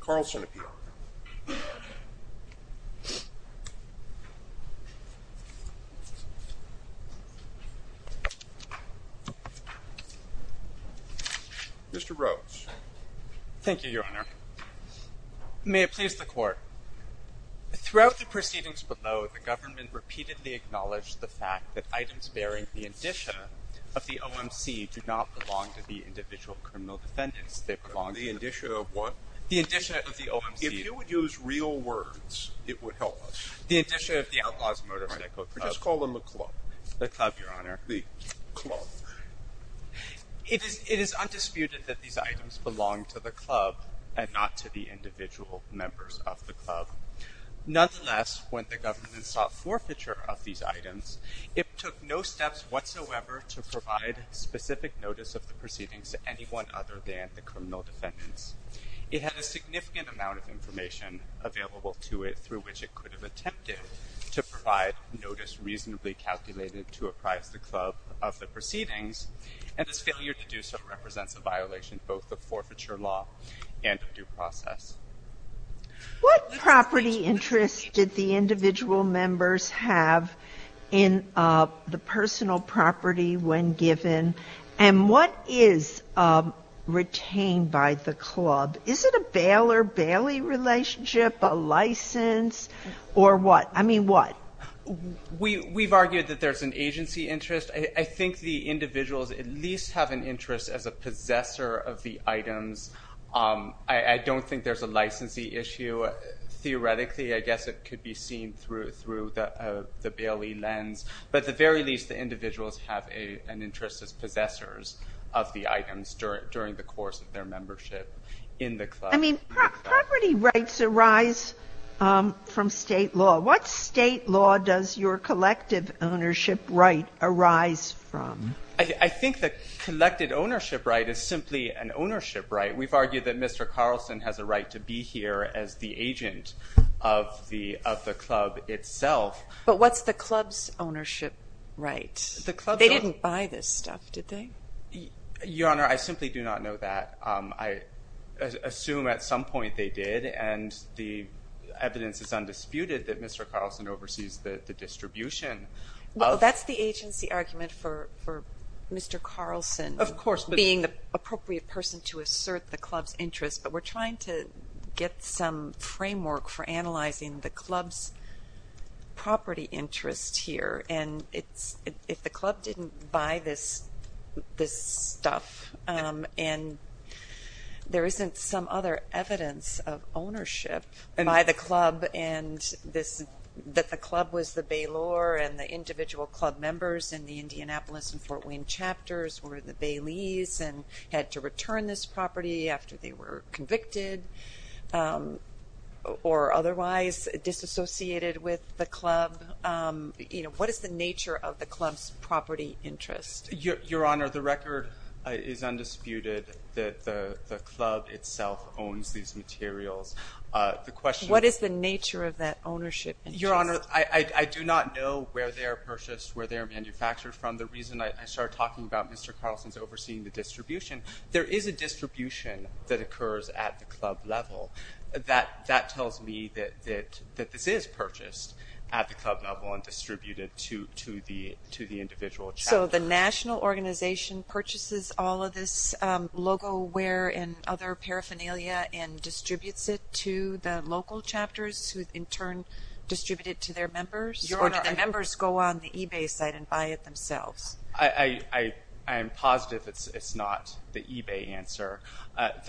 Carlson appeal. Mr. Rhodes. Thank you, Your Honor. May it please the Court. Throughout the proceedings below, the government repeatedly acknowledged the fact that items bearing the indicia of the OMC do not belong to the individual criminal defendants. The indicia of what? The indicia of the OMC. If you would use real words, it would help us. The indicia of the Outlaws Motorcycle Club. Just call them the club. The club, Your Honor. The club. It is undisputed that these items belong to the club and not to the individual members of the club. Nonetheless, when the government sought forfeiture of these items, it took no steps whatsoever to provide specific notice of the crime, no one other than the criminal defendants. It had a significant amount of information available to it through which it could have attempted to provide notice reasonably calculated to apprise the club of the proceedings, and its failure to do so represents a violation of both the forfeiture law and due process. What property interest did the individual members have in the personal property when given? And what is retained by the club? Is it a bail or bailey relationship? A license? Or what? I mean, what? We've argued that there's an agency interest. I think the individuals at least have an interest as a possessor of the items. I don't think there's a licensee issue. Theoretically, I guess it could be seen through the bailey lens. But at the very least, the individuals have an interest as possessors of the items during the course of their membership in the club. I mean, property rights arise from state law. What state law does your collective ownership right arise from? I think the collective ownership right is simply an ownership right. We've argued that Mr. Carlson has a right to be here as the agent of the club itself. But what's the club's ownership right? They didn't buy this stuff, did they? Your Honor, I simply do not know that. I assume at some point they did, and the evidence is undisputed that Mr. Carlson oversees the distribution. That's the agency argument for Mr. Carlson being the appropriate person to assert the club's interest, but we're trying to get some framework for analyzing the club's property interest here. And if the club didn't buy this stuff, and there isn't some other evidence of ownership by the club, and that the club was the bailor and the individual club members in the Indianapolis and Fort Wayne chapters were the baileys and had to were convicted or otherwise disassociated with the club, you know, what is the nature of the club's property interest? Your Honor, the record is undisputed that the club itself owns these materials. The question is... What is the nature of that ownership interest? Your Honor, I do not know where they are purchased, where they are manufactured from. The reason I started talking about Mr. Carlson's overseeing the distribution, there is a distribution that occurs at the club level. That tells me that this is purchased at the club level and distributed to the individual chapters. So the national organization purchases all of this logo wear and other paraphernalia and distributes it to the local chapters, who in turn distribute it to their members? Your Honor, I... Or do the members go on the eBay site and buy it themselves? I am positive it's not the eBay answer.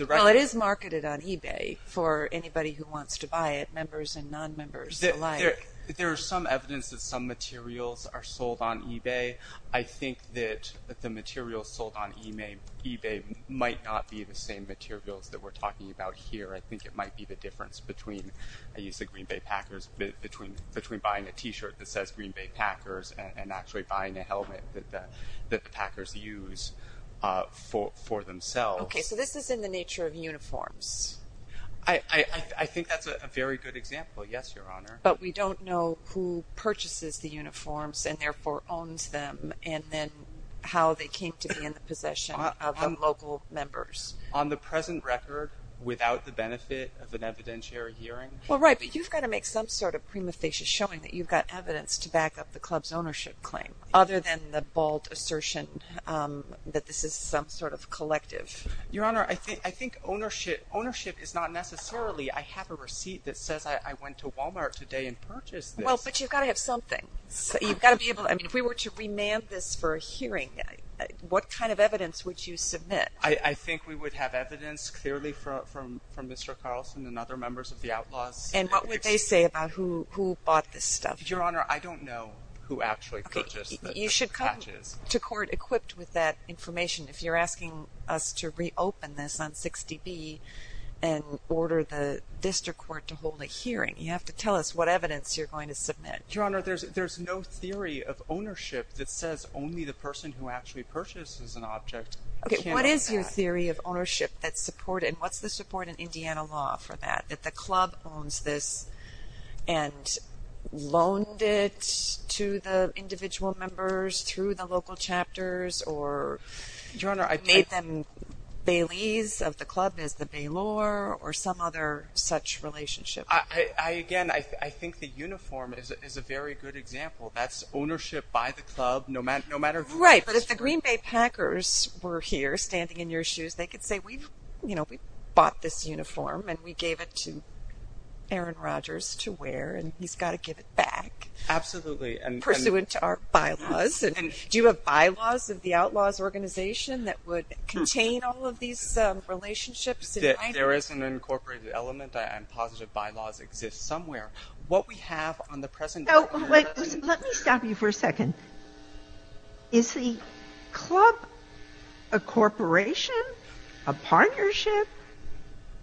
Well, it is marketed on eBay for anybody who wants to buy it, members and non-members alike. There is some evidence that some materials are sold on eBay. I think that the materials sold on eBay might not be the same materials that we're talking about here. I think it might be the difference between, I used the Green Bay Packers, between buying a t-shirt that says Green Bay Packers and actually buying a helmet that the Packers use for themselves. Okay, so this is in the nature of uniforms. I think that's a very good example, yes, Your Honor. But we don't know who purchases the uniforms and therefore owns them, and then how they came to be in the possession of the local members. On the present record, without the benefit of an evidentiary hearing... Well, right, but you've got to make some sort of prima facie showing that you've got evidence to back up the club's ownership claim, other than the bold assertion that this is some sort of collective. Your Honor, I think ownership is not necessarily, I have a receipt that says I went to Walmart today and purchased this. Well, but you've got to have something. You've got to be able to... I mean, if we were to remand this for a hearing, what kind of evidence would you submit? I think we would have evidence clearly from Mr. Carlson and other members of the outlaws. And what would they say about who bought this stuff? Your Honor, I don't know who actually purchased the patches. You should come to court equipped with that information. If you're asking us to reopen this on 60B and order the district court to hold a hearing, you have to tell us what evidence you're going to submit. Your Honor, there's no theory of ownership that says only the person who actually purchases an object... What is your theory of ownership that's supported? What's the support in Indiana law for that, that the club owns this and loaned it to the individual members through the local chapters or made them baileys of the club as the bailor or some other such relationship? Again, I think the uniform is a very good example. That's ownership by the club, no matter who... Right. But if the Green Bay Packers were here standing in your shoes, they could say, we've bought this uniform and we gave it to Aaron Rodgers to wear and he's got to give it back. Absolutely. Pursuant to our bylaws. Do you have bylaws of the outlaws organization that would contain all of these relationships? There is an incorporated element and positive bylaws exist somewhere. What we have on the present... Let me stop you for a second. Is the club a corporation, a partnership,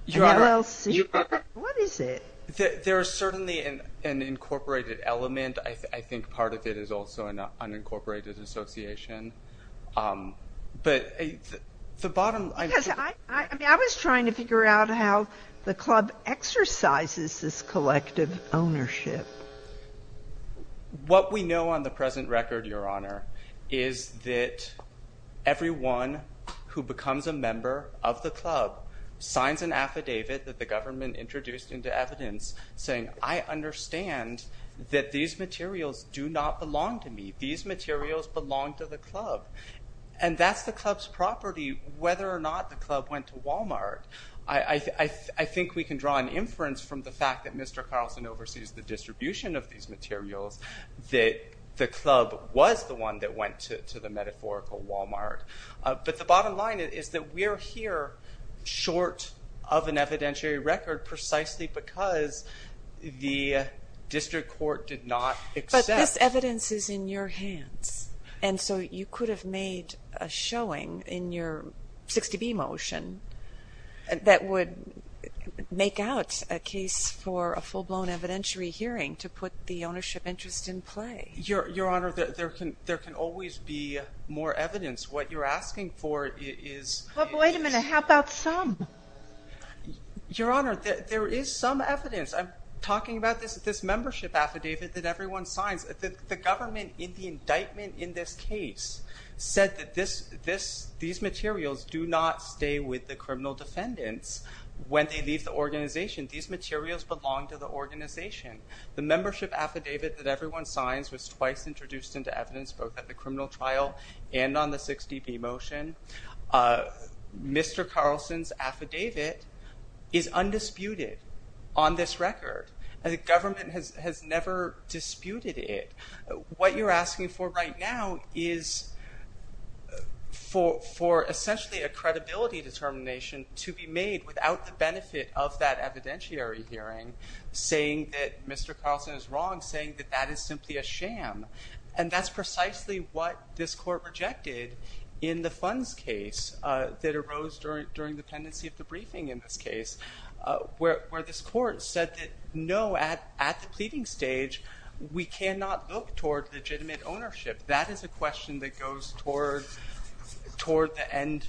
an LLC? What is it? There is certainly an incorporated element. I think part of it is also an unincorporated association, but the bottom... Because I was trying to figure out how the club exercises this collective ownership. What we know on the present record, Your Honor, is that everyone who becomes a member of the club signs an affidavit that the government introduced into evidence saying, I understand that these materials do not belong to me. These materials belong to the club. And that's the club's property, whether or not the club went to Walmart. I think we can draw an inference from the fact that Mr. Carlson oversees the distribution of these materials that the club was the one that went to the metaphorical Walmart. But the bottom line is that we're here short of an evidentiary record precisely because the district court did not accept... But this evidence is in your hands. And so you could have made a showing in your 60B motion that would make out a case for a full-blown evidentiary hearing to put the ownership interest in play. Your Honor, there can always be more evidence. What you're asking for is... Well, wait a minute. How about some? Your Honor, there is some evidence. I'm talking about this membership affidavit that everyone signs. The government, in the indictment in this case, said that these materials do not stay with the criminal defendants when they leave the organization. These materials belong to the organization. The membership affidavit that everyone signs was twice introduced into evidence both at the criminal trial and on the 60B motion. Mr. Carlson's affidavit is undisputed on this record. The government has never disputed it. What you're asking for right now is for essentially a credibility determination to be made without the benefit of that evidentiary hearing saying that Mr. Carlson is wrong, saying that that is simply a sham. And that's precisely what this court rejected in the funds case that arose during the pendency of the briefing in this case, where this court said that, no, at the pleading stage, we cannot look toward legitimate ownership. That is a question that goes toward the end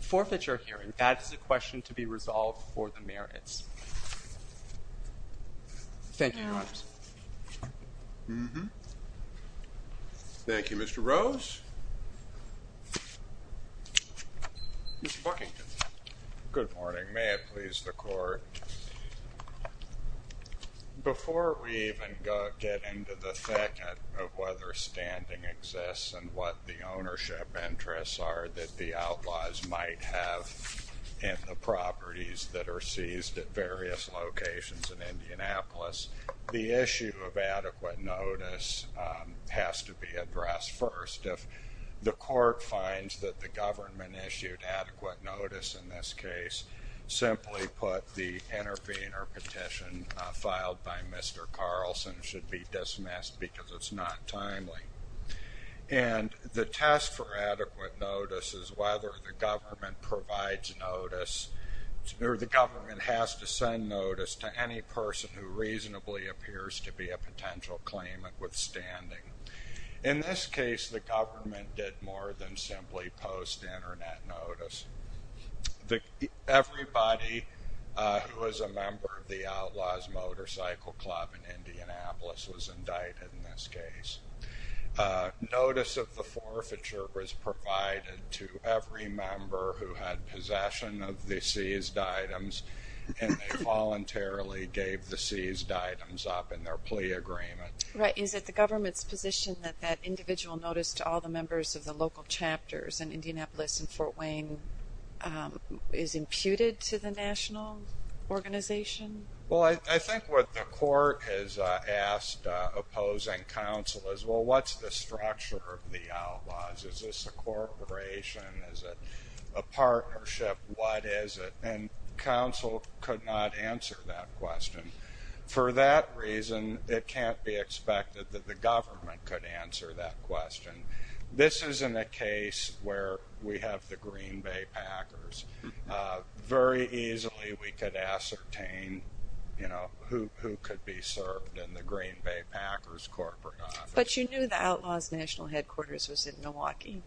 forfeiture hearing. That is a question to be resolved for the merits. Thank you, Your Honor. Thank you, Mr. Rose. Mr. Buckington. Good morning. May it please the Court. Before we even get into the thick of whether standing exists and what the ownership interests are that the outlaws might have in the properties that are seized at various locations in Indianapolis, the issue of adequate notice has to be addressed first. If the court finds that the government issued adequate notice in this case, simply put, the intervener petition filed by Mr. Carlson should be dismissed because it's not timely. And the test for adequate notice is whether the government provides notice or the government has to send notice to any person who reasonably appears to be a potential claimant withstanding. In this case, the government did more than simply post Internet notice. Everybody who is a member of the Outlaws Motorcycle Club in Indianapolis was indicted in this case. Notice of the forfeiture was provided to every member who had possession of the seized items, and they voluntarily gave the seized items up in their plea agreement. Right. Is it the government's position that that individual notice to all the members of the local chapters in Indianapolis and Fort Wayne is imputed to the national organization? Well, I think what the court has asked opposing counsel is, well, what's the structure of the outlaws? Is this a corporation? Is it a partnership? What is it? And counsel could not answer that question. For that reason, it can't be expected that the government could answer that question. This isn't a case where we have the Green Bay Packers. Very easily we could ascertain, you know, who could be served in the Green Bay Packers corporate office. But you knew the Outlaws National Headquarters was in Milwaukee.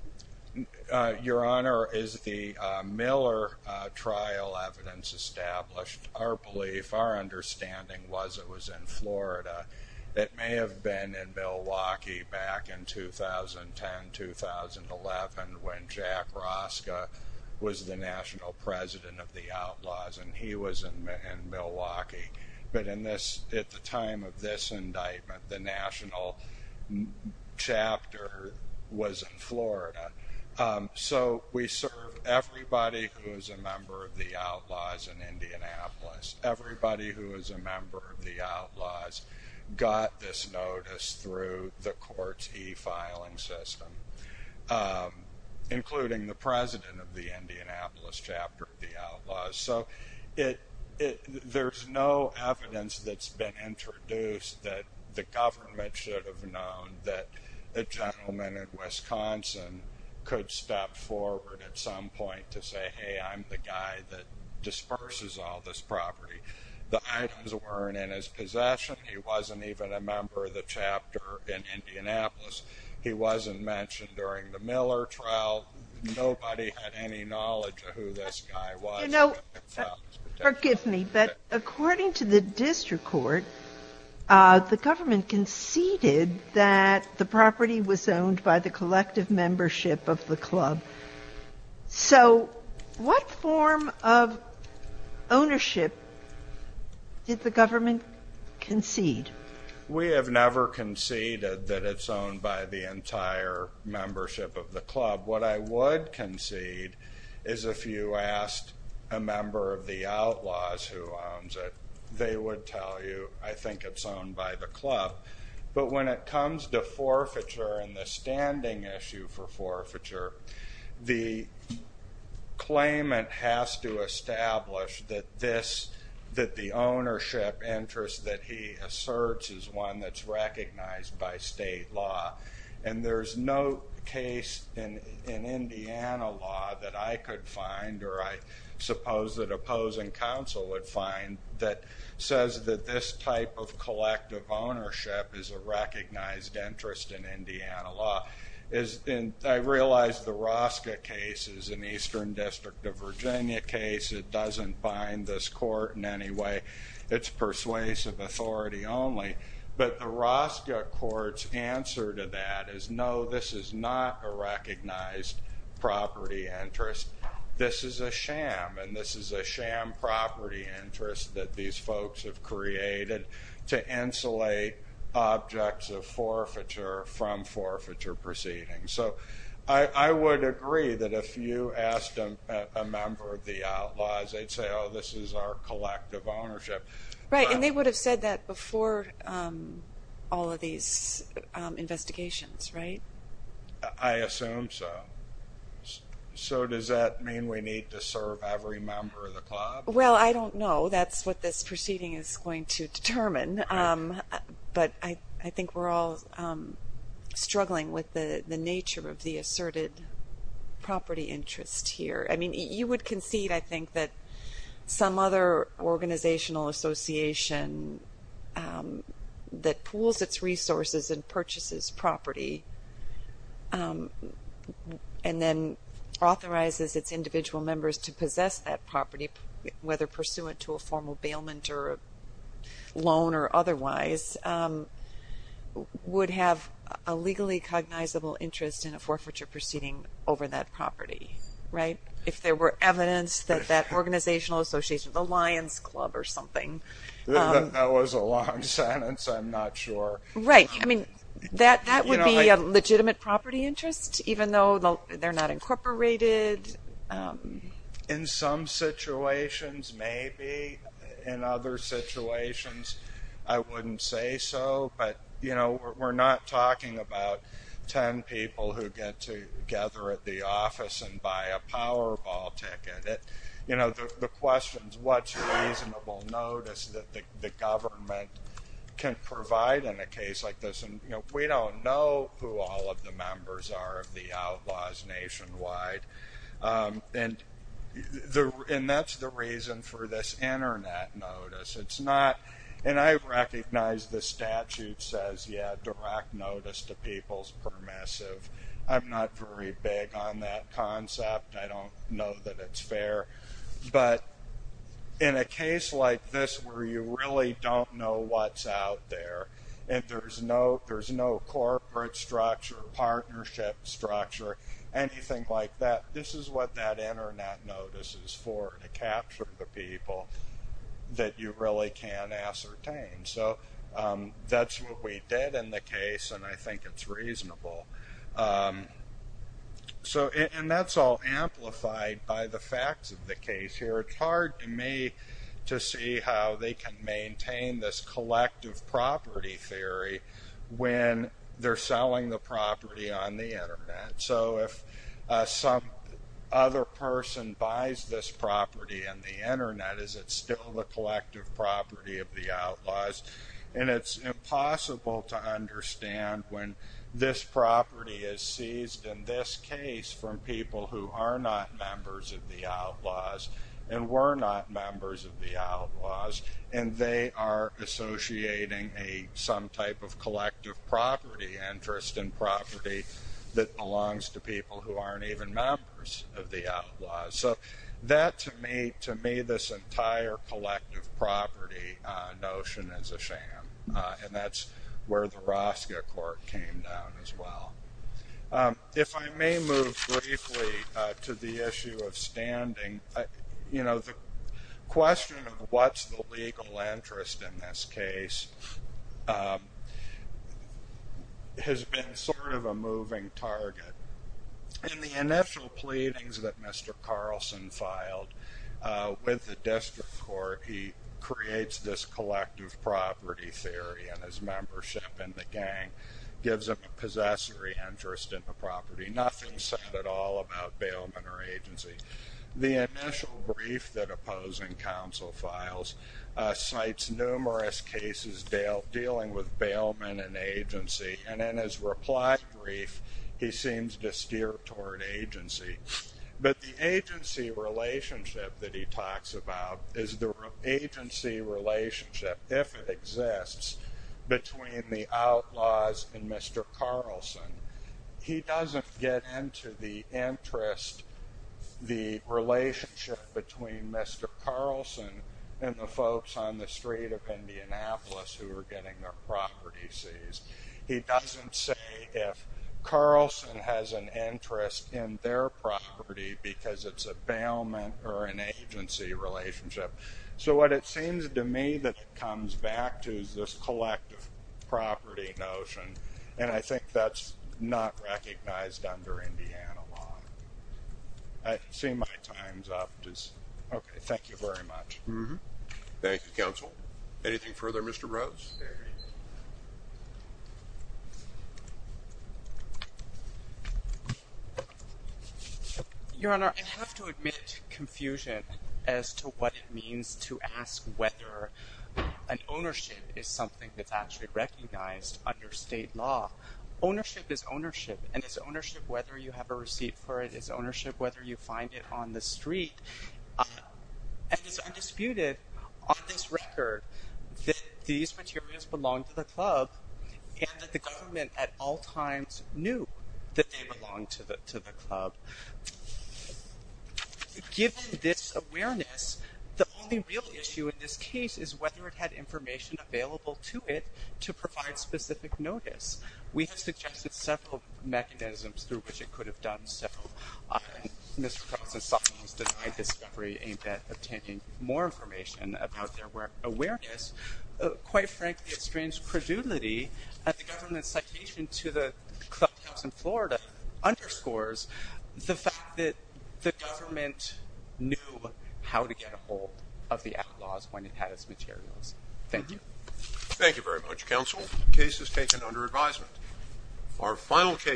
Your Honor, as the Miller trial evidence established, our belief, our understanding was it was in Florida. It may have been in Milwaukee back in 2010, 2011, when Jack Roska was the national president of the Outlaws, and he was in Milwaukee. But at the time of this indictment, the national chapter was in Florida. So we serve everybody who is a member of the Outlaws in Indianapolis, everybody who is a member of the Outlaws got this notice through the court's e-filing system, including the president of the Indianapolis chapter of the Outlaws. So there's no evidence that's been introduced that the government should have known that a gentleman in Wisconsin could step forward at some point to say, hey, I'm the guy that disperses all this property. The items weren't in his possession. He wasn't even a member of the chapter in Indianapolis. He wasn't mentioned during the Miller trial. Nobody had any knowledge of who this guy was. You know, forgive me, but according to the district court, the government conceded that the property was owned by the collective membership of the club. So what form of ownership did the government concede? We have never conceded that it's owned by the entire membership of the club. What I would concede is if you asked a member of the Outlaws who owns it, they would tell you, I think it's owned by the club. But when it comes to forfeiture and the standing issue for forfeiture, the claimant has to establish that the ownership interest that he asserts is one that's recognized by state law. And there's no case in Indiana law that I could find, or I suppose that opposing counsel would find, that says that this type of collective ownership is a recognized interest in Indiana law. I realize the Rosca case is an Eastern District of Virginia case. It doesn't bind this court in any way. It's persuasive authority only. But the Rosca court's answer to that is, no, this is not a recognized property interest. This is a sham, and this is a sham property interest that these folks have created to insulate objects of forfeiture from forfeiture proceedings. So I would agree that if you asked a member of the Outlaws, they'd say, oh, this is our collective ownership. Right, and they would have said that before all of these investigations, right? I assume so. So does that mean we need to serve every member of the club? Well, I don't know. That's what this proceeding is going to determine. But I think we're all struggling with the nature of the asserted property interest here. I mean, you would concede, I think, that some other organizational association that pools its resources and purchases property and then authorizes its individual members to possess that property, whether pursuant to a formal bailment or loan or otherwise, would have a legally cognizable interest in a forfeiture proceeding over that property, right? If there were evidence that that organizational association, the Lions Club or something. That was a long sentence. I'm not sure. Right. I mean, that would be a legitimate property interest, even though they're not incorporated. In some situations, maybe. In other situations, I wouldn't say so. But, you know, we're not talking about ten people who get together at the office and buy a Powerball ticket. You know, the question is, what's reasonable notice that the government can provide in a case like this? And, you know, we don't know who all of the members are of the outlaws nationwide. And that's the reason for this Internet notice. It's not. And I recognize the statute says, yeah, direct notice to people's permissive. I'm not very big on that concept. I don't know that it's fair. But in a case like this where you really don't know what's out there and there's no corporate structure, partnership structure, anything like that, this is what that Internet notice is for, to capture the people that you really can ascertain. So that's what we did in the case, and I think it's reasonable. And that's all amplified by the facts of the case here. It's hard to me to see how they can maintain this collective property theory when they're selling the property on the Internet. So if some other person buys this property on the Internet, is it still the collective property of the outlaws? And it's impossible to understand when this property is seized in this case from people who are not members of the outlaws. And we're not members of the outlaws, and they are associating some type of collective property interest in property that belongs to people who aren't even members of the outlaws. So that, to me, this entire collective property notion is a sham, and that's where the Rosca court came down as well. If I may move briefly to the issue of standing, the question of what's the legal interest in this case has been sort of a moving target. In the initial pleadings that Mr. Carlson filed with the district court, he creates this collective property theory, and his membership in the gang gives him a possessory interest in the property. Nothing said at all about bailment or agency. The initial brief that opposing counsel files cites numerous cases dealing with bailment and agency, and in his reply brief, he seems to steer toward agency. But the agency relationship that he talks about is the agency relationship, if it exists, between the outlaws and Mr. Carlson. He doesn't get into the interest, the relationship between Mr. Carlson and the folks on the street of Indianapolis who are getting their property seized. He doesn't say if Carlson has an interest in their property because it's a bailment or an agency relationship. So what it seems to me that it comes back to is this collective property notion, and I think that's not recognized under Indiana law. I see my time's up. Okay. Thank you very much. Anything further, Mr. Rose? Thank you. Your Honor, I have to admit confusion as to what it means to ask whether an ownership is something that's actually recognized under state law. Ownership is ownership, and it's ownership whether you have a receipt for it. It's ownership whether you find it on the street. And it's undisputed on this record that these materials belong to the club and that the government at all times knew that they belonged to the club. Given this awareness, the only real issue in this case is whether it had information available to it to provide specific notice. We have suggested several mechanisms through which it could have done so. Mr. Coates and Solomon's denied discovery aimed at obtaining more information about their awareness. Quite frankly, it's strange credulity that the government's citation to the clubhouse in Florida underscores the fact that the government knew how to get a hold of the ad laws when it had its materials. Thank you. Thank you very much, counsel. The case is taken under advisement. Our final case.